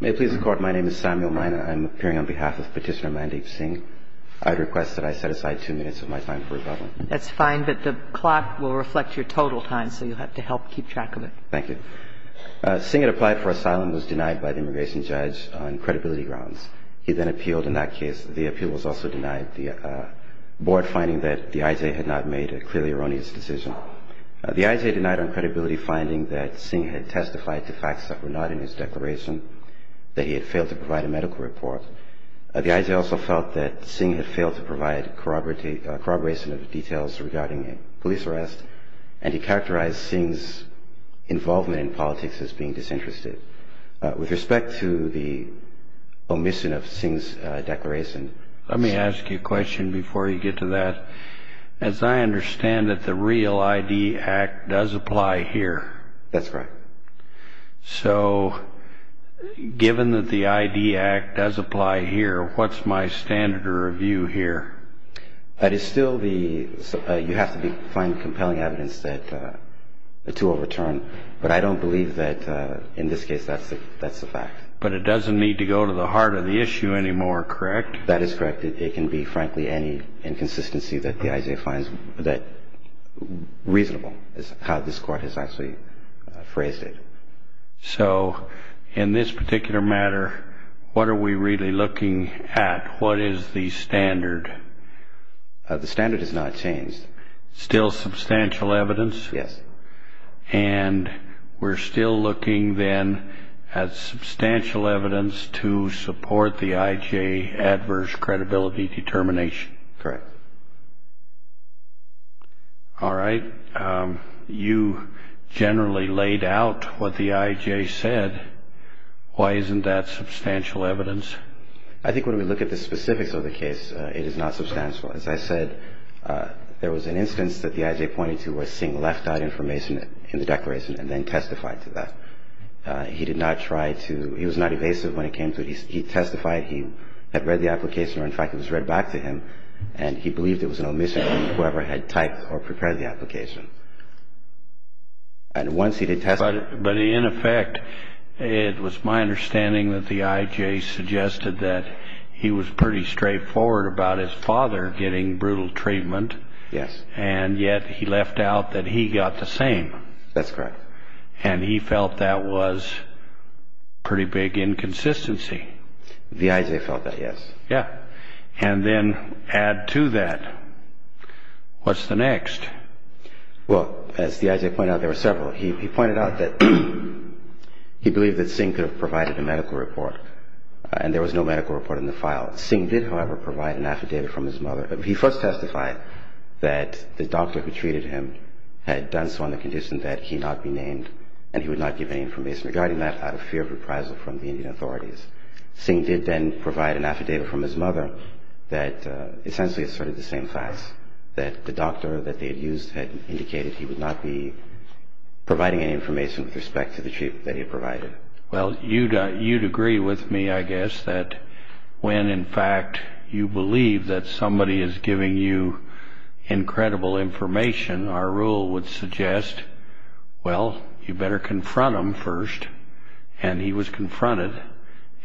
May it please the Court, my name is Samuel Mina. I'm appearing on behalf of Petitioner Mandeep Singh. I'd request that I set aside two minutes of my time for rebuttal. That's fine, but the clock will reflect your total time, so you'll have to help keep track of it. Thank you. Singh had applied for asylum and was denied by the immigration judge on credibility grounds. He then appealed in that case. The appeal was also denied. The board finding that the I.J. had not made a clearly erroneous decision. The I.J. denied on credibility finding that Singh had testified to facts that were not in his declaration. That he had failed to provide a medical report. The I.J. also felt that Singh had failed to provide corroboration of details regarding a police arrest. And he characterized Singh's involvement in politics as being disinterested. With respect to the omission of Singh's declaration. Let me ask you a question before you get to that. As I understand it, the real I.D. Act does apply here. That's correct. So, given that the I.D. Act does apply here, what's my standard of review here? That is still the, you have to find compelling evidence that the two will return. But I don't believe that in this case that's the fact. But it doesn't need to go to the heart of the issue anymore, correct? That is correct. It can be, frankly, any inconsistency that the I.J. finds reasonable is how this Court has actually phrased it. So, in this particular matter, what are we really looking at? What is the standard? The standard has not changed. Still substantial evidence? Yes. And we're still looking then at substantial evidence to support the I.J.'s adverse credibility determination? Correct. All right. You generally laid out what the I.J. said. Why isn't that substantial evidence? I think when we look at the specifics of the case, it is not substantial. As I said, there was an instance that the I.J. pointed to was seeing left-out information in the declaration and then testified to that. He did not try to, he was not evasive when it came to it. He testified he had read the application, or in fact it was read back to him, and he believed it was an omission from whoever had typed or prepared the application. But in effect, it was my understanding that the I.J. suggested that he was pretty straightforward about his father getting brutal treatment, and yet he left out that he got the same. That's correct. And he felt that was pretty big inconsistency. The I.J. felt that, yes. And then add to that, what's the next? Well, as the I.J. pointed out, there were several. He pointed out that he believed that Singh could have provided a medical report, and there was no medical report in the file. Singh did, however, provide an affidavit from his mother. He first testified that the doctor who treated him had done so on the condition that he not be named, and he would not give any information regarding that out of fear of reprisal from the Indian authorities. Singh did then provide an affidavit from his mother that essentially asserted the same facts, that the doctor that they had used had indicated he would not be providing any information with respect to the treatment that he had provided. Well, you'd agree with me, I guess, that when, in fact, you believe that somebody is giving you incredible information, our rule would suggest, well, you better confront him first, and he was confronted,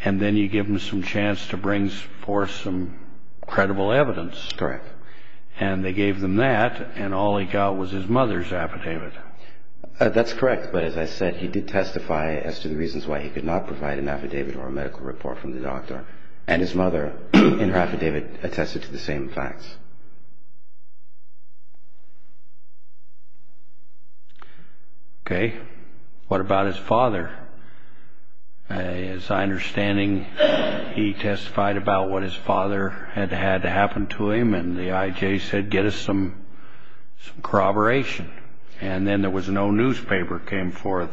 and then you give him some chance to bring forth some credible evidence. Correct. And they gave them that, and all he got was his mother's affidavit. That's correct. But as I said, he did testify as to the reasons why he could not provide an affidavit or a medical report from the doctor, and his mother in her affidavit attested to the same facts. Okay. What about his father? As I understand, he testified about what his father had had to happen to him, and the IJ said, get us some corroboration. And then there was no newspaper came forth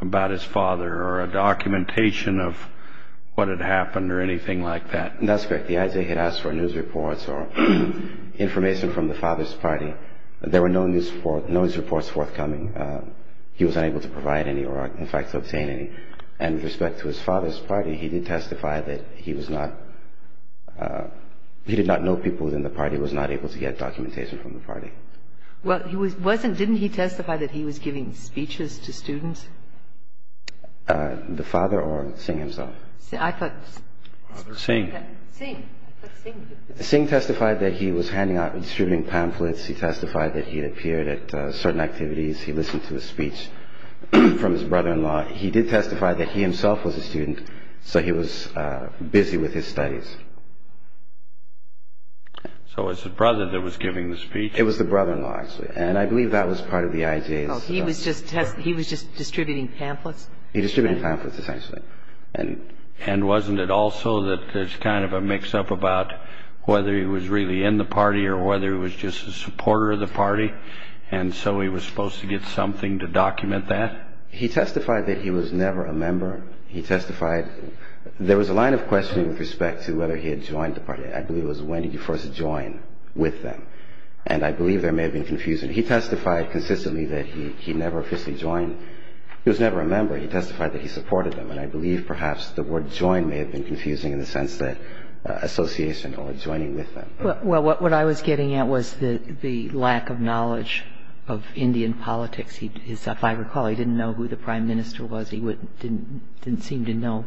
about his father or a documentation of what had happened or anything like that. That's correct. The IJ had asked for news reports or information from the father's party. There were no news reports forthcoming. He was unable to provide any or, in fact, to obtain any. And with respect to his father's party, he did testify that he was not he did not know people in the party, was not able to get documentation from the party. Well, he wasn't didn't he testify that he was giving speeches to students? The father or Singh himself? I thought. Singh. Singh. Singh testified that he was handing out and distributing pamphlets. He testified that he had appeared at certain activities. He listened to a speech from his brother-in-law. He did testify that he himself was a student, so he was busy with his studies. So it's the brother that was giving the speech. It was the brother-in-law, actually, and I believe that was part of the IJ's. Oh, he was just distributing pamphlets? He distributed pamphlets, essentially. And wasn't it also that there's kind of a mix-up about whether he was really in the party or whether he was just a supporter of the party, and so he was supposed to get something to document that? He testified that he was never a member. He testified there was a line of questioning with respect to whether he had joined the party. I believe it was when did you first join with them, and I believe there may have been confusion. He testified consistently that he never officially joined. He was never a member. He testified that he supported them, and I believe perhaps the word join may have been confusing in the sense that association or joining with them. Well, what I was getting at was the lack of knowledge of Indian politics. If I recall, he didn't know who the prime minister was. He didn't seem to know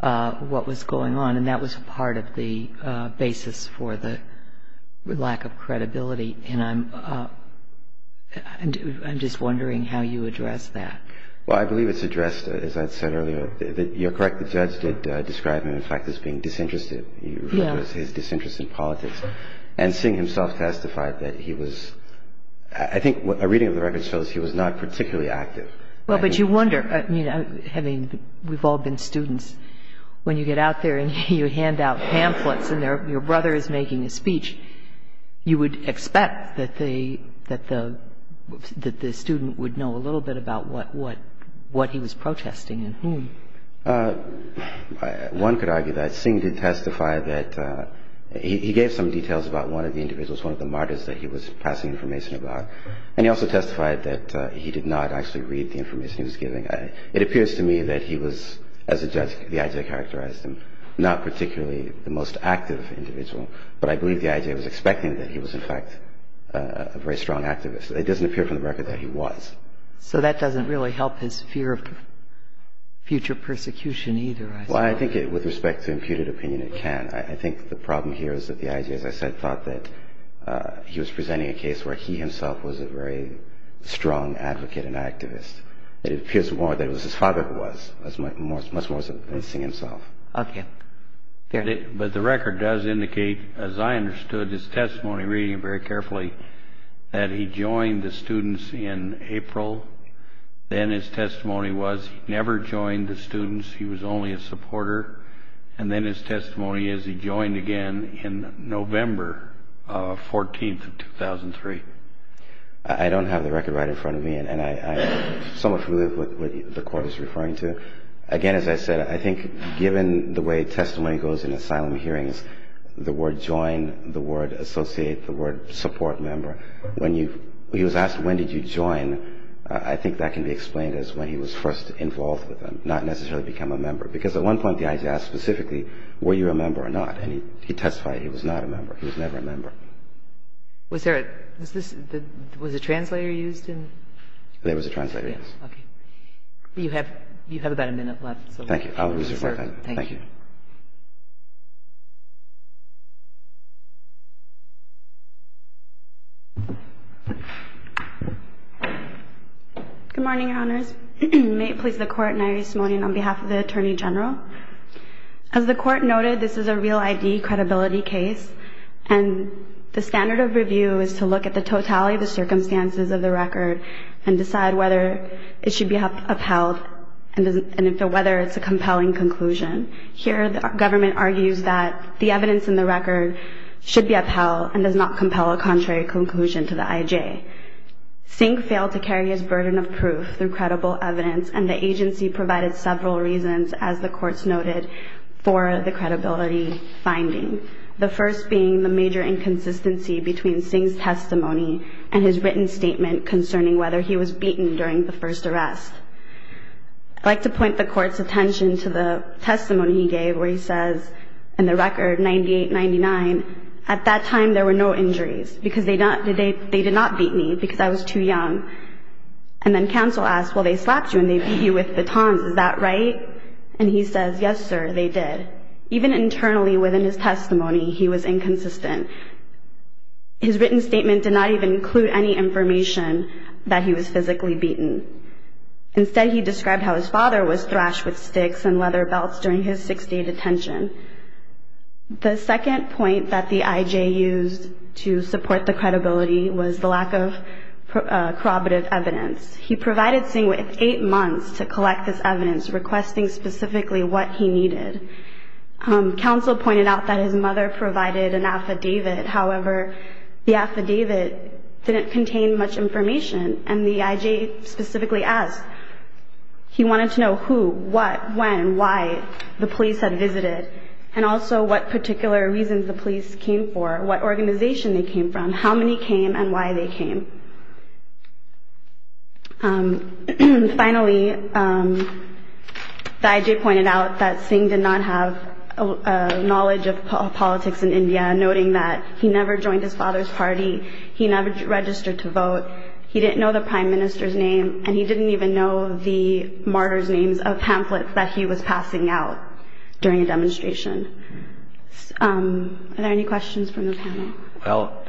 what was going on, and that was part of the basis for the lack of credibility, and I'm just wondering how you address that. Well, I believe it's addressed, as I said earlier, that you're correct. The judge did describe him, in fact, as being disinterested. He referred to his disinterest in politics. And seeing himself testify that he was – I think a reading of the record shows he was not particularly active. Well, but you wonder – I mean, we've all been students. When you get out there and you hand out pamphlets and your brother is making a speech, you would expect that the student would know a little bit about what he was protesting and whom. One could argue that. Singh did testify that – he gave some details about one of the individuals, one of the martyrs that he was passing information about, and he also testified that he did not actually read the information he was giving. It appears to me that he was – as a judge, the I.J. characterized him not particularly the most active individual, but I believe the I.J. was expecting that he was, in fact, a very strong activist. It doesn't appear from the record that he was. So that doesn't really help his fear of future persecution either, I suppose. Well, I think with respect to imputed opinion, it can. I think the problem here is that the I.J., as I said, thought that he was presenting a case where he himself was a very strong advocate and activist. It appears more that it was his father who was, much more so than Singh himself. Okay. But the record does indicate, as I understood his testimony, reading it very carefully, that he joined the students in April. Then his testimony was he never joined the students. He was only a supporter. And then his testimony is he joined again in November 14th of 2003. I don't have the record right in front of me, and I'm somewhat familiar with what the court is referring to. Again, as I said, I think given the way testimony goes in asylum hearings, the word join, the word associate, the word support member, when you – he was asked when did you join, I think that can be explained as when he was first involved with them, not necessarily become a member. Because at one point the I.J. asked specifically were you a member or not, and he testified he was not a member. He was never a member. Was there a – was this – was a translator used in – There was a translator. Okay. You have about a minute left. Thank you. Thank you. Good morning, Your Honors. May it please the Court, and I rise this morning on behalf of the Attorney General. As the Court noted, this is a real I.D. credibility case, and the standard of review is to look at the totality of the circumstances of the record and decide whether it should be upheld and whether it's a compelling conclusion. Here the government argues that the evidence in the record should be upheld and does not compel a contrary conclusion to the I.J. Singh failed to carry his burden of proof through credible evidence, and the agency provided several reasons, as the Court noted, for the credibility finding, the first being the major inconsistency between Singh's testimony and his written statement concerning whether he was beaten during the first arrest. I'd like to point the Court's attention to the testimony he gave where he says, in the record 98-99, at that time there were no injuries because they did not beat me because I was too young. And then counsel asked, well, they slapped you and they beat you with batons. Is that right? And he says, yes, sir, they did. Even internally within his testimony, he was inconsistent. His written statement did not even include any information that he was physically beaten. Instead, he described how his father was thrashed with sticks and leather belts during his six-day detention. The second point that the I.J. used to support the credibility was the lack of corroborative evidence. He provided Singh with eight months to collect this evidence, requesting specifically what he needed. Counsel pointed out that his mother provided an affidavit. However, the affidavit didn't contain much information, and the I.J. specifically asked. He wanted to know who, what, when, why the police had visited, and also what particular reasons the police came for, what organization they came from, how many came, and why they came. Finally, the I.J. pointed out that Singh did not have knowledge of politics in India, noting that he never joined his father's party. He never registered to vote. He didn't know the prime minister's name, and he didn't even know the martyrs' names of pamphlets that he was passing out during a demonstration. Are there any questions from the panel? Well,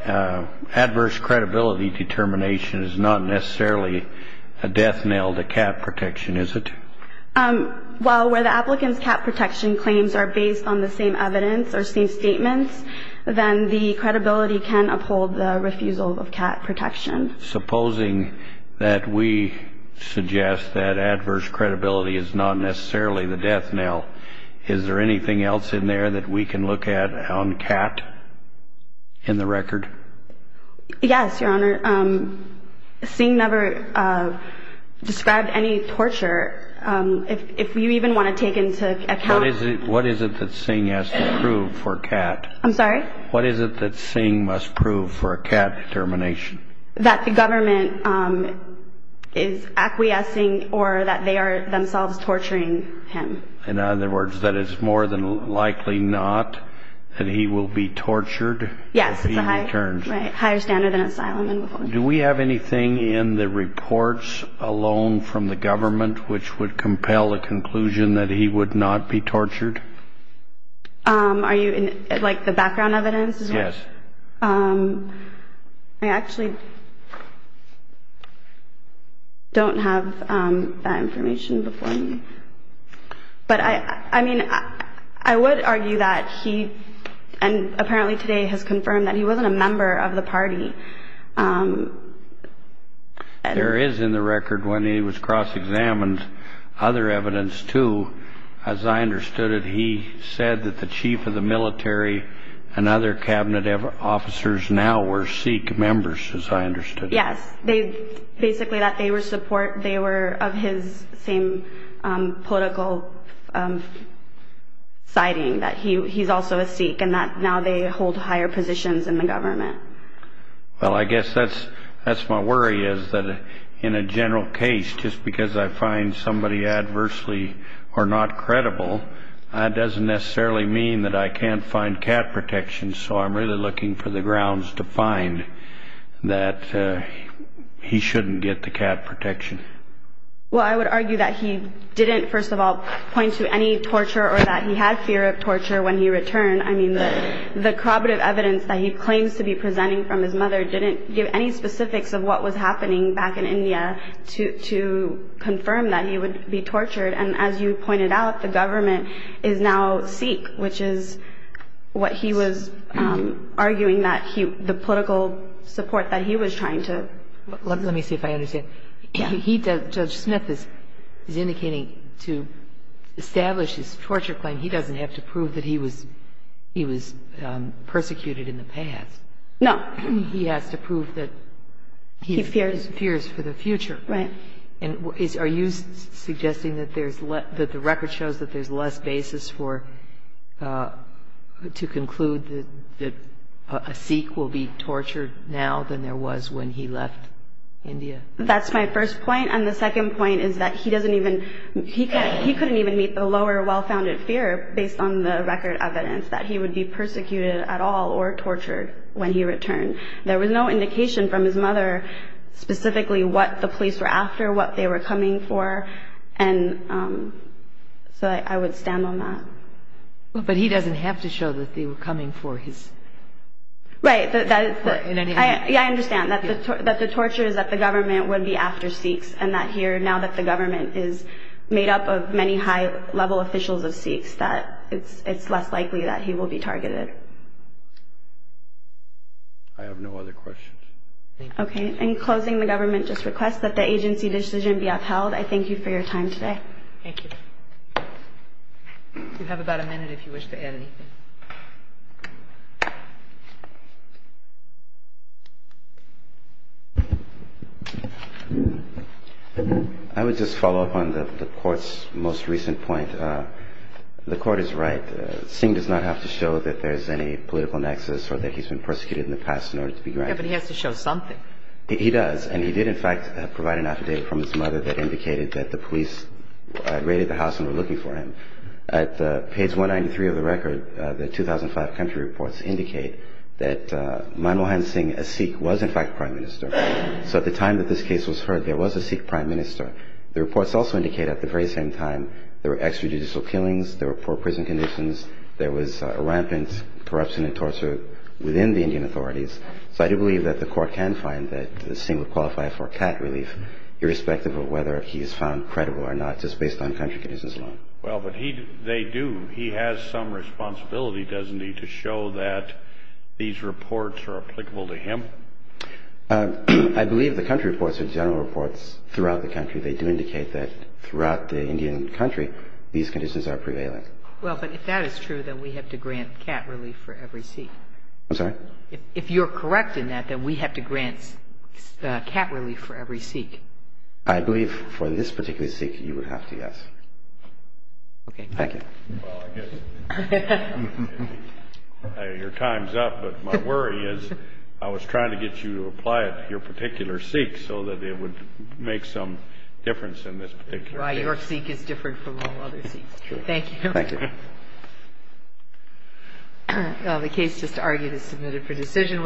adverse credibility determination is not necessarily a death knell to cat protection, is it? Well, where the applicant's cat protection claims are based on the same evidence or same statements, then the credibility can uphold the refusal of cat protection. Supposing that we suggest that adverse credibility is not necessarily the death knell, is there anything else in there that we can look at on cat in the record? Yes, Your Honor. Singh never described any torture. If you even want to take into account... What is it that Singh has to prove for cat? I'm sorry? What is it that Singh must prove for cat determination? That the government is acquiescing or that they are themselves torturing him. In other words, that it's more than likely not that he will be tortured if he returns. Yes, it's a higher standard than asylum. Do we have anything in the reports alone from the government which would compel a conclusion that he would not be tortured? Like the background evidence? Yes. I actually don't have that information before me. But I mean, I would argue that he, and apparently today has confirmed that he wasn't a member of the party. There is in the record when he was cross-examined other evidence, too. As I understood it, he said that the chief of the military and other cabinet officers now were Sikh members, as I understood it. Yes, basically that they were of his same political siding, that he's also a Sikh and that now they hold higher positions in the government. Well, I guess that's my worry is that in a general case, just because I find somebody adversely or not credible, that doesn't necessarily mean that I can't find cat protection. So I'm really looking for the grounds to find that he shouldn't get the cat protection. Well, I would argue that he didn't, first of all, point to any torture or that he had fear of torture when he returned. I mean, the corroborative evidence that he claims to be presenting from his mother didn't give any specifics of what was happening back in India to confirm that he would be tortured. And as you pointed out, the government is now Sikh, which is what he was arguing that the political support that he was trying to. Let me see if I understand. Judge Smith is indicating to establish his torture claim, he doesn't have to prove that he was persecuted in the past. No. He has to prove that he fears for the future. Right. Are you suggesting that the record shows that there's less basis to conclude that a Sikh will be tortured now than there was when he left India? That's my first point. And the second point is that he doesn't even, he couldn't even meet the lower well-founded fear based on the record evidence that he would be persecuted at all or tortured when he returned. There was no indication from his mother specifically what the police were after, what they were coming for. And so I would stand on that. But he doesn't have to show that they were coming for his. Right. I understand that the torture is that the government would be after Sikhs and that here now that the government is made up of many high level officials of Sikhs that it's less likely that he will be targeted. I have no other questions. Okay. In closing, the government just requests that the agency decision be upheld. I thank you for your time today. Thank you. You have about a minute if you wish to add anything. I would just follow up on the court's most recent point. The court is right. Singh does not have to show that there's any political nexus or that he's been persecuted in the past in order to be granted. Yeah, but he has to show something. He does. And he did, in fact, provide an affidavit from his mother that indicated that the police raided the house and were looking for him. At page 193 of the record, the 2005 country report, the 2003 reports indicate that Manmohan Singh, a Sikh, was in fact prime minister. So at the time that this case was heard, there was a Sikh prime minister. The reports also indicate at the very same time there were extrajudicial killings, there were poor prison conditions, there was rampant corruption and torture within the Indian authorities. So I do believe that the court can find that Singh would qualify for CAT relief irrespective of whether he is found credible or not just based on country conditions alone. Well, but they do. He has some responsibility, doesn't he, to show that these reports are applicable to him? I believe the country reports are general reports throughout the country. They do indicate that throughout the Indian country these conditions are prevailing. Well, but if that is true, then we have to grant CAT relief for every Sikh. I'm sorry? If you're correct in that, then we have to grant CAT relief for every Sikh. I believe for this particular Sikh you would have to, yes. Okay. Thank you. Well, I guess your time's up. But my worry is I was trying to get you to apply it to your particular Sikh so that it would make some difference in this particular case. Your Sikh is different from all other Sikhs. Thank you. Thank you. The case just argued is submitted for decision.